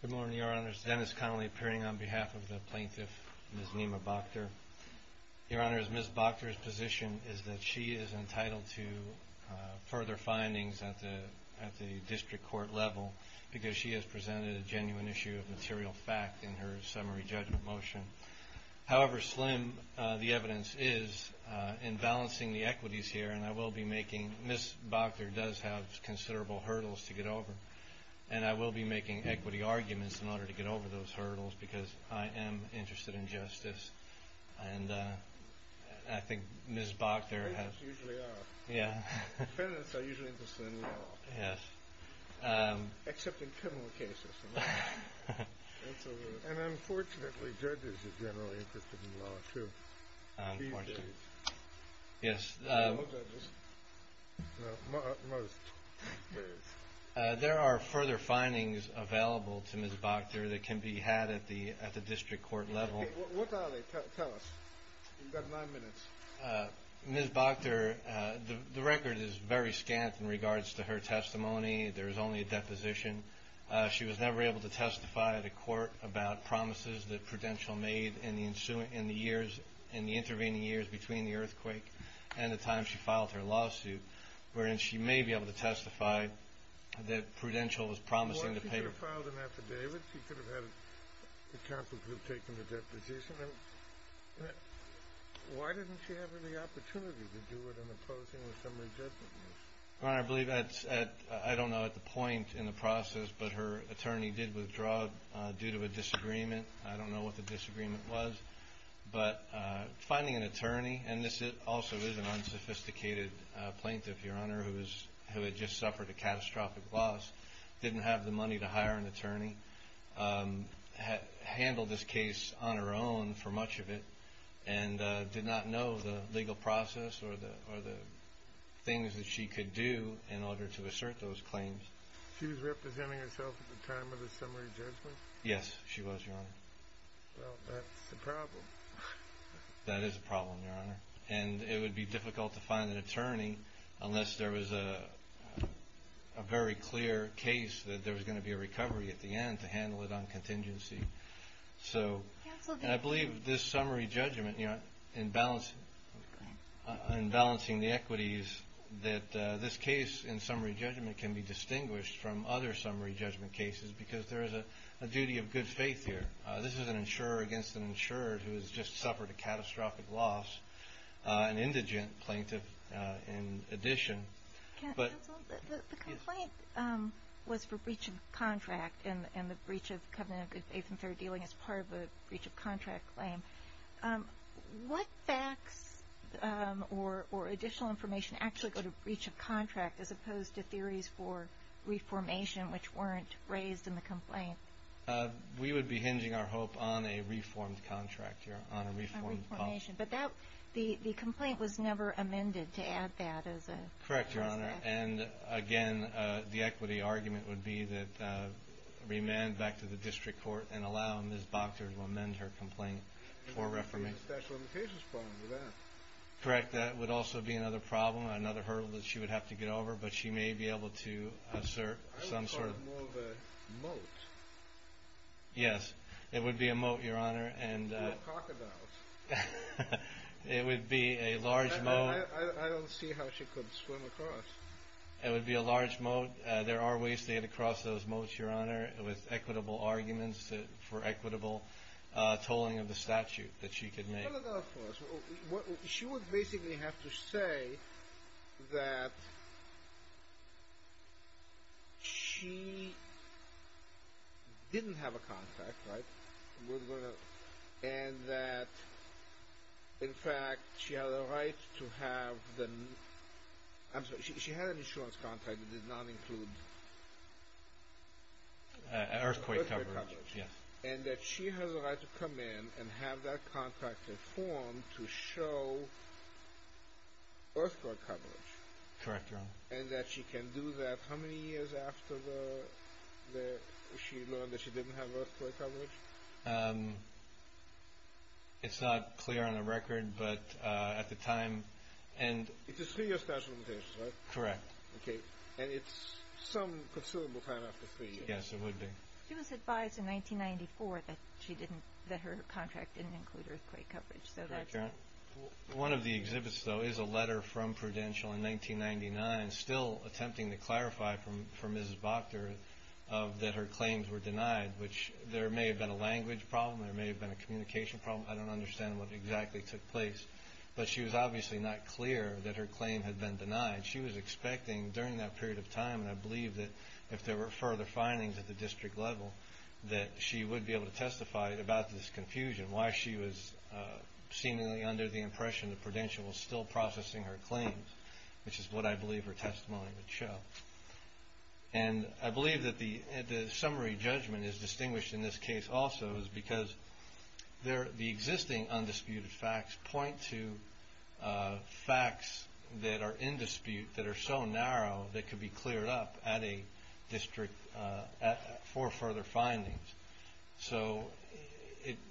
Good morning, Your Honors. Dennis Connolly appearing on behalf of the plaintiff, Ms. Nima Boktor. Your Honors, Ms. Boktor's position is that she is entitled to further findings at the district court level because she has presented a genuine issue of material fact in her summary judgment motion. However slim the evidence is in balancing the equities here and I will be making, Ms. Boktor does have considerable hurdles to get over, and I will be making equity arguments in order to get over those hurdles because I am interested in justice and I think Ms. Boktor has... There are further findings available to Ms. Boktor that can be had at the district court level. Ms. Boktor, the record is very scant in regards to her testimony. There is only a deposition She was never able to testify at a court about promises that Prudential made in the intervening years between the earthquake and the time she filed her lawsuit, wherein she may be able to testify that Prudential was promising to pay... Well, she could have filed an affidavit. She could have had a counsel group take a deposition. Why didn't she have any opportunity to do it in opposing the summary judgment motion? I don't know at the point in the process, but her attorney did withdraw due to a disagreement. I don't know what the disagreement was, but finding an attorney, and this also is an unsophisticated plaintiff, Your Honor, who had just suffered a catastrophic loss, didn't have the money to hire an attorney, handled this case on her own for much of it, and did not know the to assert those claims. She was representing herself at the time of the summary judgment? Yes, she was, Your Honor. Well, that's a problem. That is a problem, Your Honor, and it would be difficult to find an attorney unless there was a very clear case that there was going to be a recovery at the end to handle it on This case in summary judgment can be distinguished from other summary judgment cases because there is a duty of good faith here. This is an insurer against an insurer who has just suffered a catastrophic loss, an indigent plaintiff in addition. Counsel, the complaint was for breach of contract and the breach of covenant of good faith and fair dealing as part of a breach of contract claim. What facts or additional information actually go to breach of contract as opposed to theories for reformation which weren't raised in the complaint? We would be hinging our hope on a reformed contract, Your Honor, on a reformed clause. A reformation, but the complaint was never amended to add that as a process? Correct, Your Honor, and again, the equity argument would be that remand back to the statute of limitations for that. Correct, that would also be another problem, another hurdle that she would have to get over, but she may be able to assert some sort of... I would call it more of a moat. Yes, it would be a moat, Your Honor, and... Or a crocodile. It would be a large moat. I don't see how she could swim across. It would be a large moat. There are ways to get across those moats, Your Honor, with equitable arguments for equitable tolling of the statute that she could make. No, no, no, of course. She would basically have to say that she didn't have a contract, right, and that, in fact, she had a right to have the... I'm sorry, she had an insurance contract that did not include... Earthquake coverage, yes. And that she has a right to come in and have that contract informed to show earthquake coverage. Correct, Your Honor. And that she can do that how many years after she learned that she didn't have earthquake coverage? It's not clear on the record, but at the time... It's a three-year statute of limitations, right? Correct. Okay, and it's some considerable time after three years. Yes, it would be. She was advised in 1994 that her contract didn't include earthquake coverage. Correct, Your Honor. One of the exhibits, though, is a letter from Prudential in 1999, still attempting to clarify for Mrs. Bachter that her claims were denied, which there may have been a language problem. There may have been a communication problem. I don't understand what exactly took place. But she was obviously not clear that her claim had been denied. She was expecting, during that period of time, and I believe that if there were further findings at the district level, that she would be able to testify about this confusion, why she was seemingly under the impression that Prudential was still processing her claims, which is what I believe her testimony would show. And I believe that the summary judgment is distinguished in this case also because the existing undisputed facts point to facts that are in dispute, that are so narrow that could be cleared up at a district for further findings. So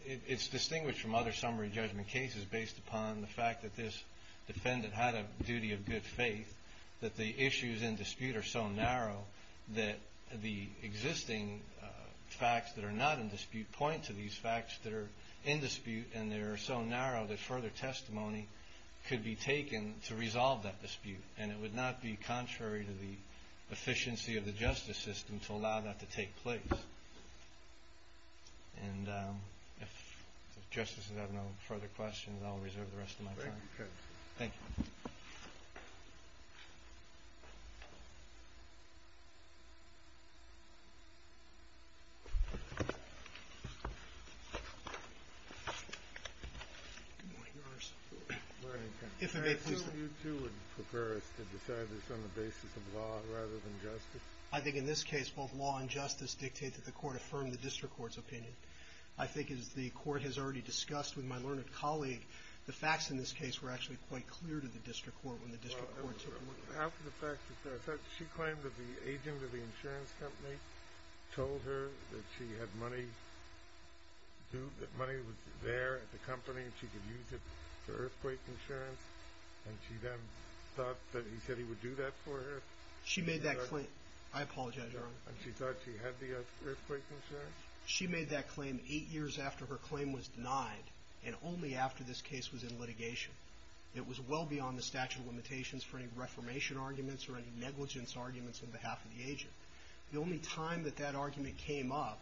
it's distinguished from other summary judgment cases based upon the fact that this defendant had a duty of good faith, that the issues in dispute are so narrow that the existing facts that are not in dispute point to these facts that are in dispute, and they are so narrow that further testimony could be taken to resolve that dispute, and it would not be contrary to the efficiency of the justice system to allow that to take place. And if the justices have no further questions, I'll reserve the rest of my time. Thank you. I think in this case both law and justice dictate that the court affirm the district court's opinion. I think as the court has already discussed with my learned colleague, the facts in this case were actually quite clear to the district court when the district court took them. After the fact, she claimed that the agent of the insurance company told her that she had money, that money was there at the company and she could use it for earthquake insurance, and she then thought that he said he would do that for her? She made that claim. I apologize, Your Honor. And she thought she had the earthquake insurance? She made that claim eight years after her claim was denied, and only after this case was in litigation. It was well beyond the statute of limitations for any reformation arguments or any negligence arguments on behalf of the agent. The only time that that argument came up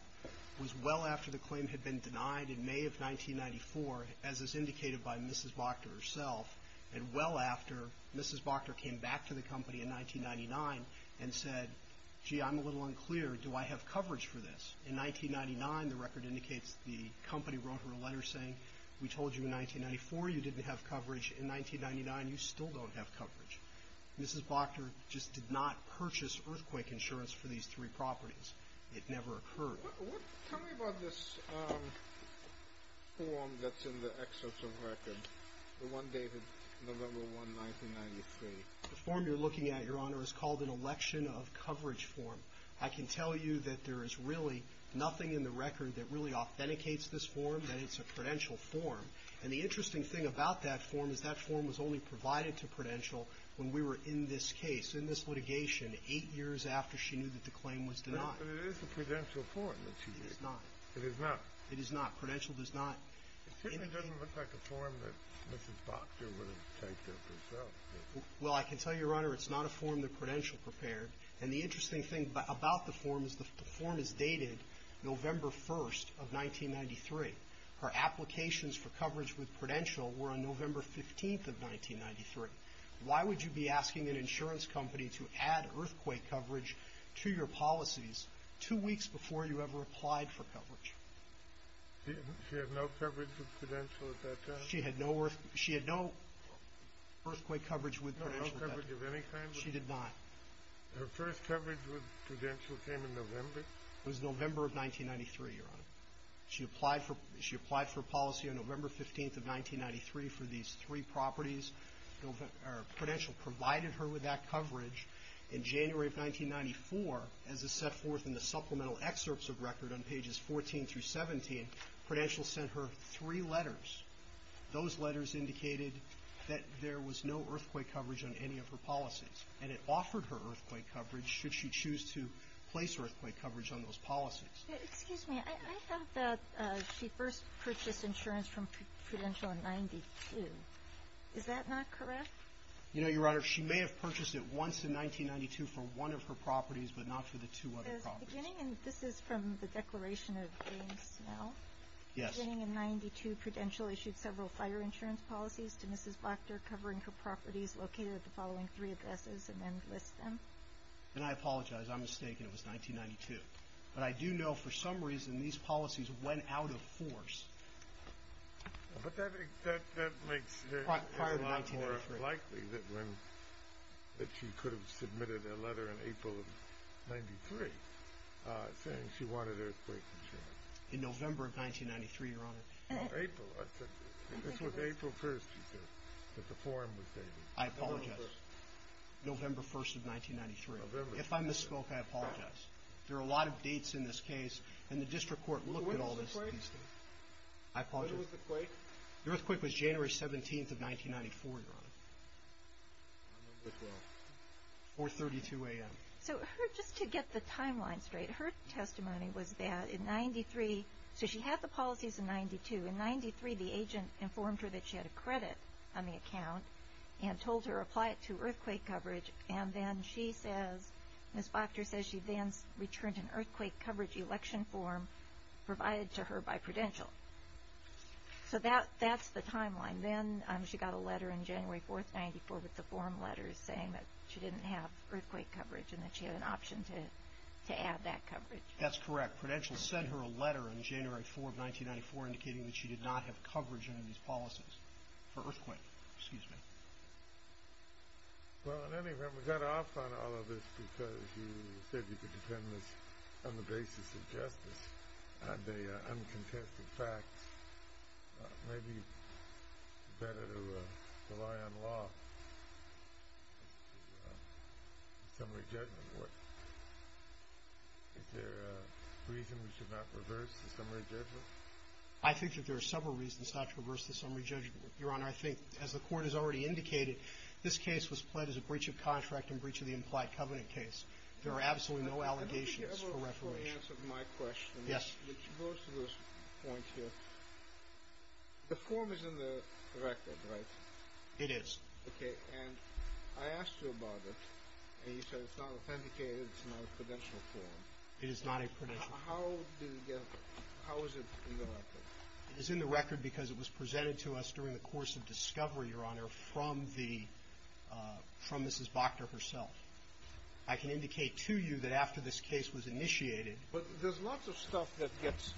was well after the claim had been denied in May of 1994, as is indicated by Mrs. Boctor herself, and well after Mrs. Boctor came back to the company in 1999 and said, gee, I'm a little unclear. Do I have coverage for this? In 1999, the record indicates the company wrote her a letter saying we told you in 1994 you didn't have coverage. In 1999, you still don't have coverage. Mrs. Boctor just did not purchase earthquake insurance for these three properties. It never occurred. Tell me about this form that's in the excerpt of the record, the one dated November 1, 1993. The form you're looking at, Your Honor, is called an election of coverage form. I can tell you that there is really nothing in the record that really authenticates this form, that it's a prudential form. And the interesting thing about that form is that form was only provided to Prudential when we were in this case, in this litigation, eight years after she knew that the claim was denied. No, but it is a prudential form that she did. It is not. It is not. It is not. Prudential does not. It certainly doesn't look like a form that Mrs. Boctor would have taken up herself. Well, I can tell you, Your Honor, it's not a form that Prudential prepared. And the interesting thing about the form is the form is dated November 1, 1993. Her applications for coverage with Prudential were on November 15, 1993. Why would you be asking an insurance company to add earthquake coverage to your policies two weeks before you ever applied for coverage? She had no coverage with Prudential at that time? She had no earthquake coverage with Prudential at that time. No coverage of any kind? She did not. Her first coverage with Prudential came in November? It was November of 1993, Your Honor. She applied for policy on November 15, 1993 for these three properties. Prudential provided her with that coverage in January of 1994 as is set forth in the supplemental excerpts of record on pages 14 through 17. Prudential sent her three letters. Those letters indicated that there was no earthquake coverage on any of her policies. And it offered her earthquake coverage should she choose to place earthquake coverage on those policies. Excuse me. I thought that she first purchased insurance from Prudential in 92. Is that not correct? You know, Your Honor, she may have purchased it once in 1992 for one of her properties, but not for the two other properties. This is from the declaration of James Smell. Yes. Beginning in 92, Prudential issued several fire insurance policies to Mrs. Blackter covering her properties located at the following three addresses and then lists them. And I apologize. I'm mistaken. It was 1992. But I do know for some reason these policies went out of force. But that makes it a lot more likely that she could have submitted a letter in April of 93 saying she wanted earthquake insurance. In November of 1993, Your Honor. April. This was April 1st, you said, that the form was dated. I apologize. November 1st. November 1st of 1993. There are a lot of dates in this case. And the district court looked at all this. When was the quake? I apologize. When was the quake? The earthquake was January 17th of 1994, Your Honor. I don't know which one. 432 a.m. So just to get the timeline straight, her testimony was that in 93, so she had the policies in 92. In 93, the agent informed her that she had a credit on the account and told her apply it to earthquake coverage. And then she says, Ms. Bachter says she then returned an earthquake coverage election form provided to her by Prudential. So that's the timeline. Then she got a letter on January 4th, 94, with the form letters, saying that she didn't have earthquake coverage and that she had an option to add that coverage. That's correct. Prudential sent her a letter on January 4th, 1994, indicating that she did not have coverage under these policies for earthquake. Excuse me. Well, in any event, we got off on all of this because you said you could defend this on the basis of justice, on the uncontested facts. Maybe it's better to rely on law than the summary judgment. Is there a reason we should not reverse the summary judgment? I think that there are several reasons not to reverse the summary judgment, Your Honor. I think, as the Court has already indicated, this case was pled as a breach of contract and breach of the implied covenant case. There are absolutely no allegations for reformation. I don't think you ever fully answered my question, which goes to this point here. The form is in the record, right? It is. Okay. And I asked you about it, and you said it's not authenticated, it's not a Prudential form. It is not a Prudential form. How is it in the record? It is in the record because it was presented to us during the course of discovery, Your Honor, from the — from Mrs. Bachter herself. I can indicate to you that after this case was initiated — But there's lots of stuff that gets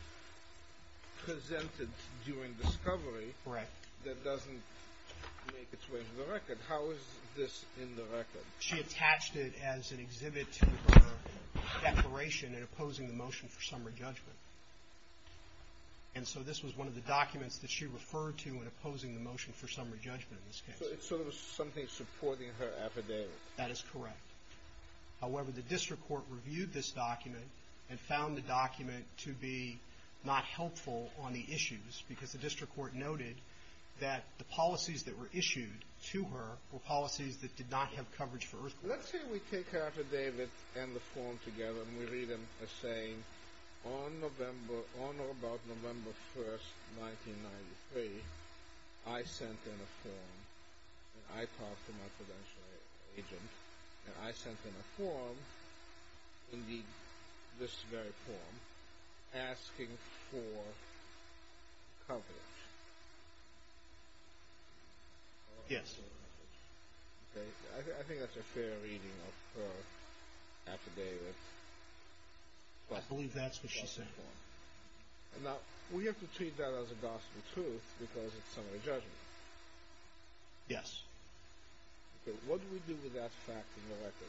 presented during discovery — Correct. — that doesn't make its way to the record. How is this in the record? She attached it as an exhibit to her declaration in opposing the motion for summary judgment. And so this was one of the documents that she referred to in opposing the motion for summary judgment in this case. So it's sort of something supporting her affidavit. That is correct. However, the district court reviewed this document and found the document to be not helpful on the issues because the district court noted that the policies that were issued to her were policies that did not have coverage for — Let's say we take her affidavit and the form together, and we read them as saying, On November — on or about November 1st, 1993, I sent in a form, and I talked to my credential agent, and I sent in a form, indeed this very form, asking for coverage. Yes. Okay. I think that's a fair reading of her affidavit. I believe that's what she said. Now, we have to treat that as a gospel truth because it's summary judgment. Yes. Okay. What do we do with that fact in the record?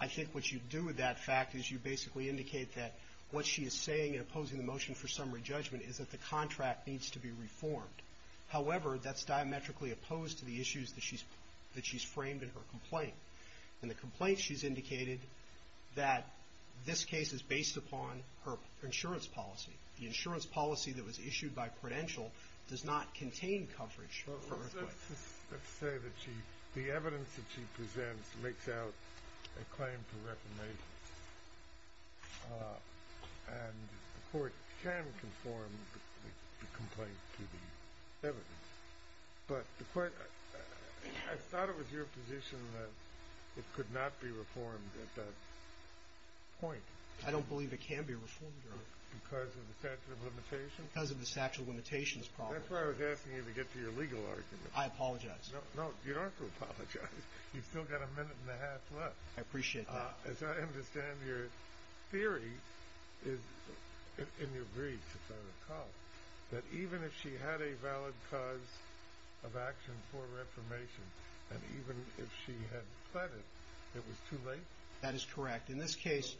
I think what you do with that fact is you basically indicate that what she is saying in opposing the motion for summary judgment is that the contract needs to be reformed. However, that's diametrically opposed to the issues that she's framed in her complaint. In the complaint, she's indicated that this case is based upon her insurance policy. The insurance policy that was issued by credential does not contain coverage. Let's say that the evidence that she presents makes out a claim for reformation, and the court can conform the complaint to the evidence, but I thought it was your position that it could not be reformed at that point. I don't believe it can be reformed, Your Honor. Because of the statute of limitations? Because of the statute of limitations problem. That's why I was asking you to get to your legal argument. I apologize. No, you don't have to apologize. You've still got a minute and a half left. I appreciate that. As I understand, your theory is, in your brief, if I recall, that even if she had a valid cause of action for reformation, and even if she had pleaded, it was too late? That is correct. In this case,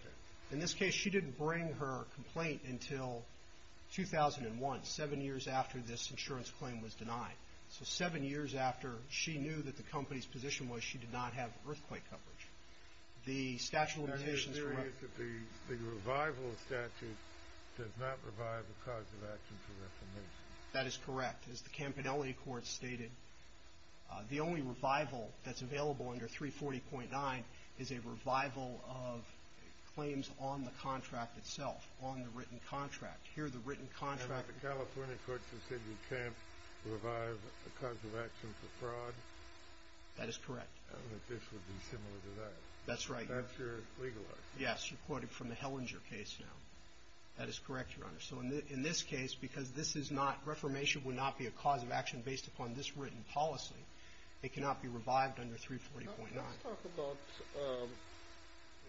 she didn't bring her complaint until 2001, seven years after this insurance claim was denied. So seven years after she knew that the company's position was she did not have earthquake coverage. The revival statute does not revive a cause of action for reformation. That is correct. As the Campanelli Court stated, the only revival that's available under 340.9 is a revival of claims on the contract itself, on the written contract. Here, the written contract. And the California courts have said you can't revive a cause of action for fraud. That is correct. I don't think this would be similar to that. That's right. That's your legal argument. Yes, you're quoting from the Hellinger case now. That is correct, Your Honor. So in this case, because this is not, reformation would not be a cause of action based upon this written policy, it cannot be revived under 340.9. Let's talk about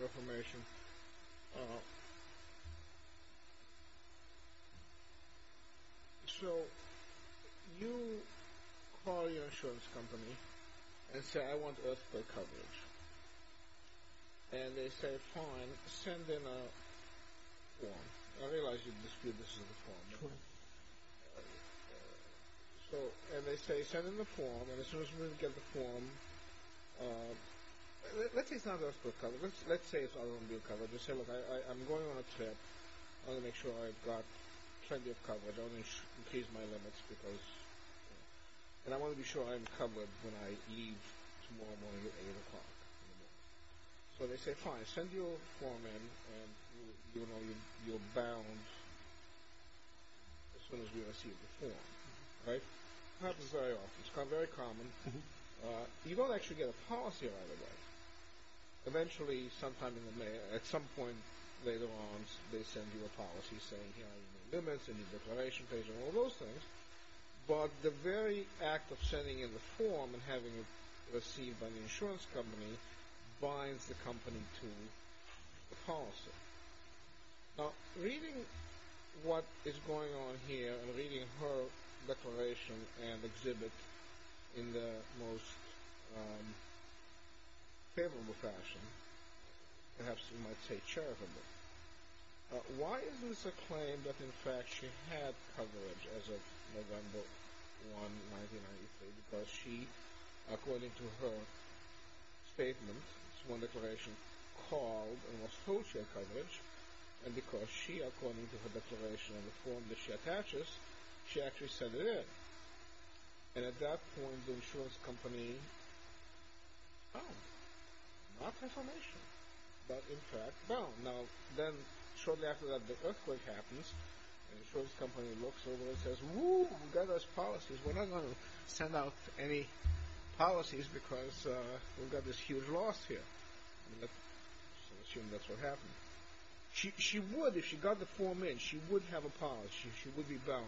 reformation. So you call your insurance company and say, I want earthquake coverage. And they say, fine, send in a form. I realize you dispute this is a form, Your Honor. True. So, and they say, send in the form, and as soon as we get the form, let's say it's not earthquake coverage, let's say it's not earthquake coverage. Let's say, look, I'm going on a trip. I want to make sure I've got plenty of coverage. I want to increase my limits because, and I want to be sure I'm covered when I leave tomorrow morning at 8 o'clock. So they say, fine, send your form in, and you'll know you're bound as soon as we receive the form. Right? Happens very often. It's very common. You don't actually get a policy right away. Eventually, at some point later on, they send you a policy saying here are your limits, and your declaration page, and all those things. But the very act of sending in the form and having it received by the insurance company binds the company to the policy. Now, reading what is going on here, and reading her declaration and exhibit in the most favorable fashion, perhaps you might say charitable, why is this a claim that in fact she had coverage as of November 1, 1993? Because she, according to her statement, it's one declaration called and was told she had coverage, and because she, according to her declaration and the form that she attaches, she actually sent it in. And at that point, the insurance company, oh, not information. But in fact, no. Now, then shortly after that, the earthquake happens, and the insurance company looks over and says, whoo, we got those policies. We're not going to send out any policies because we've got this huge loss here. I assume that's what happened. She would, if she got the form in, she would have a policy, she would be bound,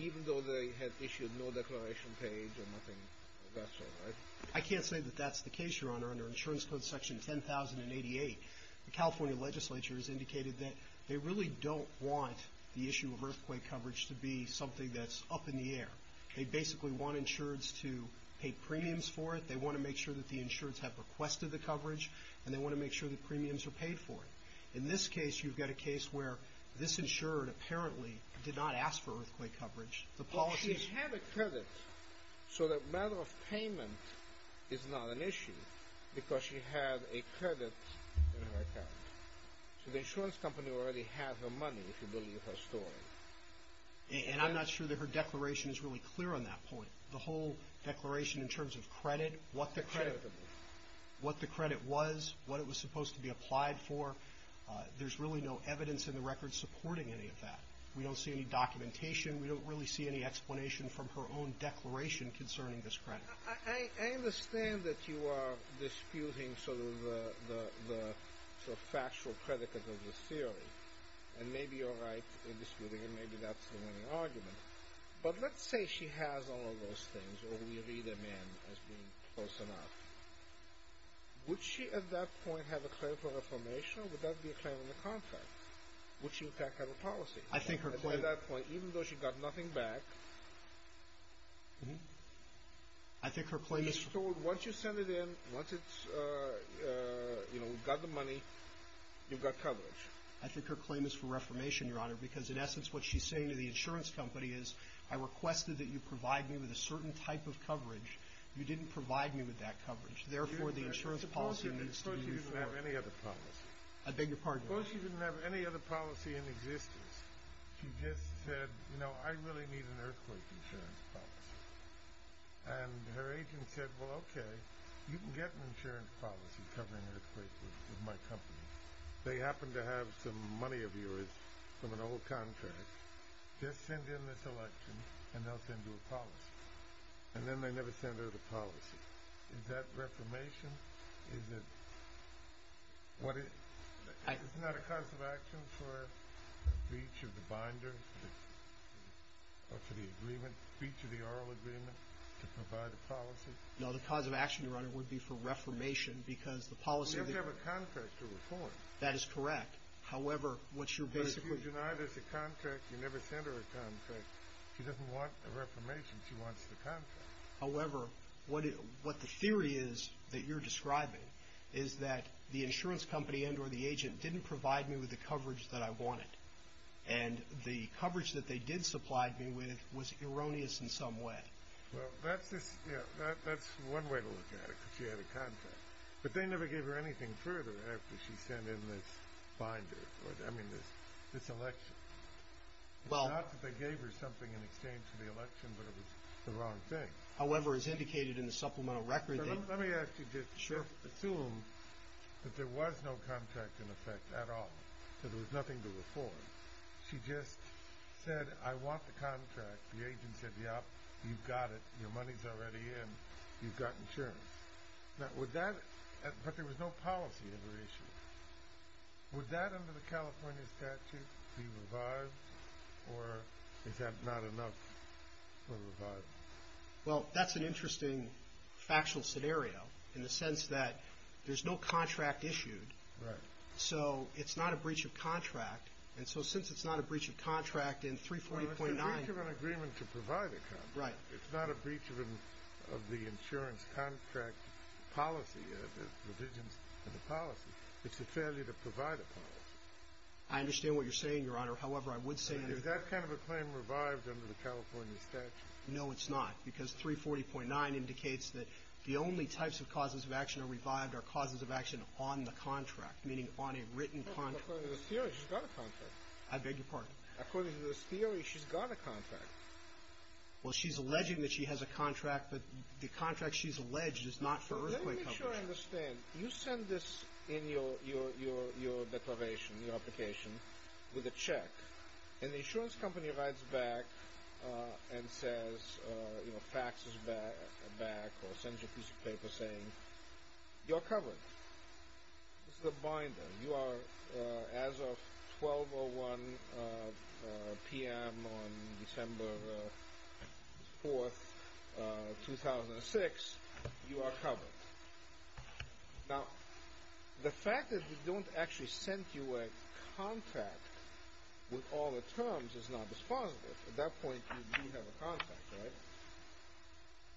even though they had issued no declaration page or nothing of that sort, right? I can't say that that's the case, Your Honor. Under Insurance Code Section 10088, the California legislature has indicated that they really don't want the issue of earthquake coverage to be something that's up in the air. They basically want insurers to pay premiums for it. They want to make sure that the insurers have requested the coverage, and they want to make sure that premiums are paid for it. In this case, you've got a case where this insurer, apparently, did not ask for earthquake coverage. She had a credit, so the matter of payment is not an issue because she had a credit in her account. So the insurance company already had her money, if you believe her story. And I'm not sure that her declaration is really clear on that point. The whole declaration in terms of credit, what the credit was, what it was supposed to be applied for, there's really no evidence in the record supporting any of that. We don't see any documentation. We don't really see any explanation from her own declaration concerning this credit. I understand that you are disputing sort of the factual credit of the theory, and maybe you're right in disputing it. Maybe that's the winning argument. But let's say she has all of those things, or we read them in as being close enough. Would she, at that point, have a claim for reformation? Would that be a claim in the contract? Would she, in fact, have a policy? At that point, even though she got nothing back, she's told, once you send it in, once we've got the money, you've got coverage. I think her claim is for reformation, Your Honor, because, in essence, what she's saying to the insurance company is, I requested that you provide me with a certain type of coverage. You didn't provide me with that coverage. Therefore, the insurance policy needs to be reformed. Suppose she didn't have any other policy. I beg your pardon? Suppose she didn't have any other policy in existence. She just said, you know, I really need an earthquake insurance policy. And her agent said, well, okay. You can get an insurance policy covering earthquakes with my company. They happen to have some money of yours from an old contract. Just send in this election, and they'll send you a policy. And then they never send her the policy. Is that reformation? Is it? What is it? It's not a cause of action for breach of the binder, or for the agreement, breach of the oral agreement, to provide a policy? No, the cause of action, Your Honor, would be for reformation, because the policy of the government. Well, you have to have a contract to report. That is correct. However, what you're basically doing. But if you deny there's a contract, you never send her a contract, she doesn't want a reformation. She wants the contract. However, what the theory is that you're describing is that the insurance company and or the agent didn't provide me with the coverage that I wanted. And the coverage that they did supply me with was erroneous in some way. Well, that's one way to look at it, because she had a contract. But they never gave her anything further after she sent in this binder, I mean, this election. It's not that they gave her something in exchange for the election, but it was the wrong thing. However, as indicated in the supplemental record. Let me actually just assume that there was no contract in effect at all, that there was nothing to reform. She just said, I want the contract. The agent said, yep, you've got it. Your money's already in. You've got insurance. But there was no policy under issue. Would that under the California statute be revived, or is that not enough for revival? Well, that's an interesting factual scenario, in the sense that there's no contract issued. Right. So it's not a breach of contract. And so since it's not a breach of contract in 340.9. It's a breach of an agreement to provide a contract. Right. It's not a breach of the insurance contract policy, the provisions of the policy. It's a failure to provide a policy. I understand what you're saying, Your Honor. However, I would say that. Is that kind of a claim revived under the California statute? No, it's not. Because 340.9 indicates that the only types of causes of action are revived are causes of action on the contract, meaning on a written contract. According to this theory, she's got a contract. I beg your pardon? According to this theory, she's got a contract. Well, she's alleging that she has a contract, but the contract she's alleged is not for earthquake coverage. Let me make sure I understand. You send this in your declaration, your application, with a check, and the insurance company writes back and says, you know, faxes back or sends you a piece of paper saying, you're covered. This is a binder. You are, as of 12.01 p.m. on December 4th, 2006, you are covered. Now, the fact that we don't actually send you a contract with all the terms is not dispositive. At that point, you do have a contract, right?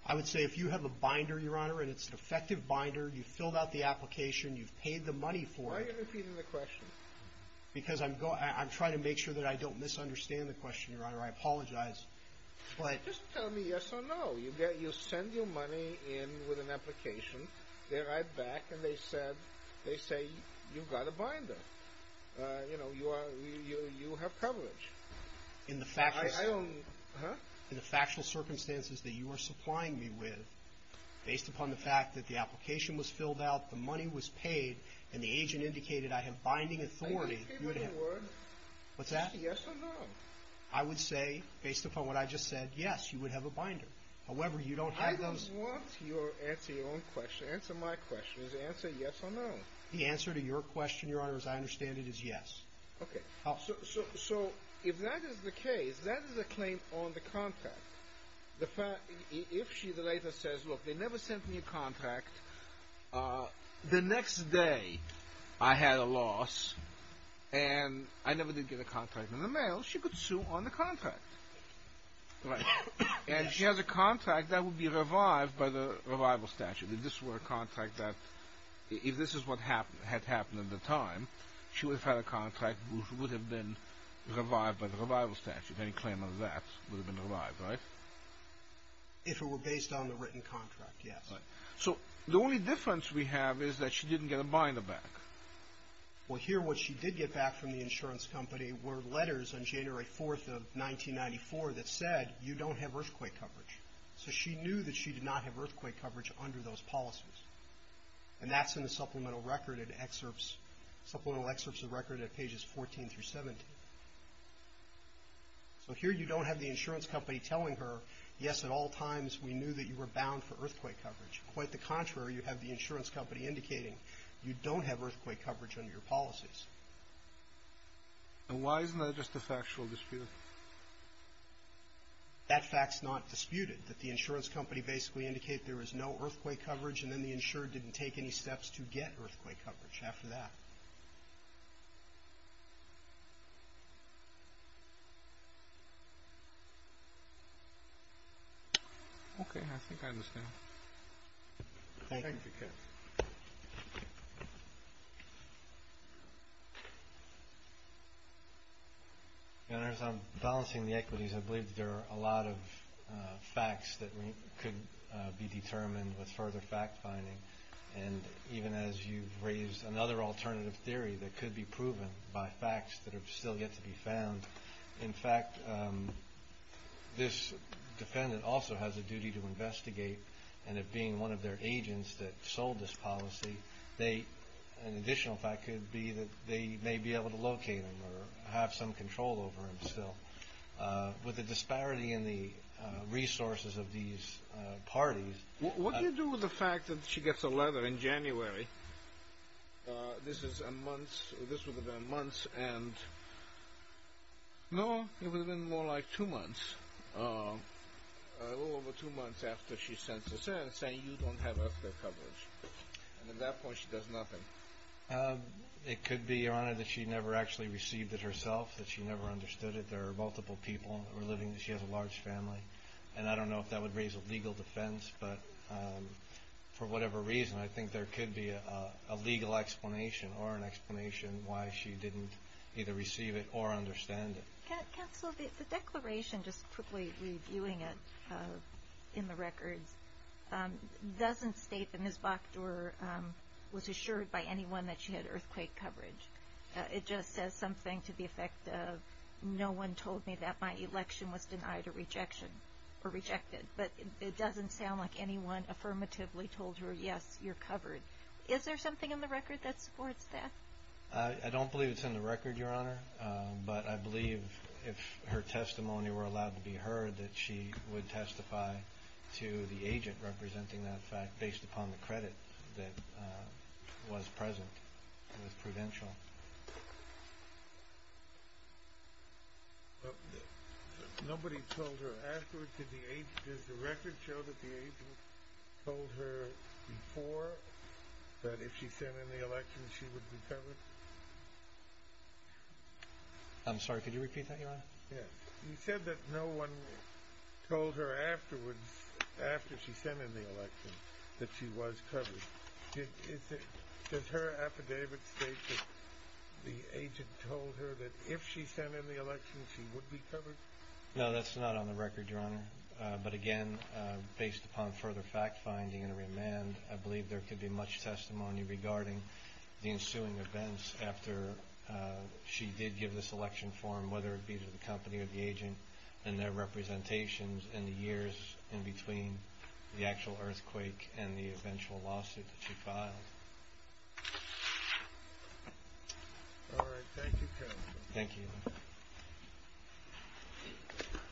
I would say if you have a binder, Your Honor, and it's an effective binder, you've filled out the application, you've paid the money for it. Why are you repeating the question? Because I'm trying to make sure that I don't misunderstand the question, Your Honor. I apologize. Just tell me yes or no. You send your money in with an application. They write back and they say, you've got a binder. You know, you have coverage. In the factual circumstances that you are supplying me with, based upon the fact that the application was filled out, the money was paid, and the agent indicated I have binding authority, you would have. Are you repeating the word? What's that? Yes or no? I would say, based upon what I just said, yes, you would have a binder. However, you don't have those. I don't want you to answer your own question. Answer my question. Answer yes or no. The answer to your question, Your Honor, as I understand it, is yes. Okay. So if that is the case, that is a claim on the contract. If she later says, look, they never sent me a contract, the next day I had a loss and I never did get a contract in the mail, she could sue on the contract. And she has a contract that would be revived by the revival statute. If this were a contract that, if this is what had happened at the time, she would have had a contract which would have been revived by the revival statute. Any claim on that would have been revived, right? If it were based on the written contract, yes. So the only difference we have is that she didn't get a binder back. Well, here what she did get back from the insurance company were letters on January 4th of 1994 that said you don't have earthquake coverage. So she knew that she did not have earthquake coverage under those policies. And that's in the supplemental record at excerpts, supplemental excerpts of record at pages 14 through 17. So here you don't have the insurance company telling her, yes, at all times we knew that you were bound for earthquake coverage. Quite the contrary, you have the insurance company indicating you don't have earthquake coverage under your policies. And why isn't that just a factual dispute? That fact's not disputed, that the insurance company basically indicated there was no earthquake coverage and then the insured didn't take any steps to get earthquake coverage after that. Okay. I think I understand. Thank you. I'm balancing the equities. I believe there are a lot of facts that could be determined with further fact-finding. And even as you've raised another alternative theory that could be proven by facts that have still yet to be found, in fact, this defendant also has a duty to investigate. And it being one of their agents that sold this policy, an additional fact could be that they may be able to locate him or have some control over him still. With the disparity in the resources of these parties. What do you do with the fact that she gets a letter in January, this is a month, this would have been a month, and no, it would have been more like two months, a little over two months after she sent this in saying you don't have earthquake coverage. And at that point she does nothing. It could be, Your Honor, that she never actually received it herself, that she never understood it. There are multiple people who are living there. She has a large family. And I don't know if that would raise a legal defense. But for whatever reason, I think there could be a legal explanation or an explanation why she didn't either receive it or understand it. Counsel, the declaration, just quickly reviewing it in the records, doesn't state that Ms. Bockdor was assured by anyone that she had earthquake coverage. It just says something to the effect of no one told me that my election was denied or rejected. But it doesn't sound like anyone affirmatively told her, yes, you're covered. Is there something in the record that supports that? I don't believe it's in the record, Your Honor. But I believe if her testimony were allowed to be heard, that she would testify to the agent representing that fact based upon the credit that was present. It was prudential. Nobody told her afterwards? Does the record show that the agent told her before that if she sent in the election she would be covered? Yes. You said that no one told her afterwards, after she sent in the election, that she was covered. Does her affidavit state that the agent told her that if she sent in the election she would be covered? No, that's not on the record, Your Honor. But again, based upon further fact finding and a remand, I believe there could be much testimony regarding the ensuing events after she did give this election form, whether it be to the company or the agent and their representations and the years in between the actual earthquake and the eventual lawsuit that she filed. All right. Thank you, counsel. Thank you. Thank you,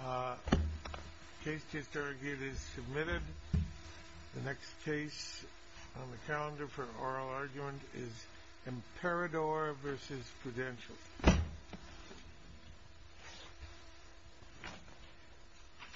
Your Honor. The case is submitted. The next case on the calendar for oral argument is Imperador v. Prudential.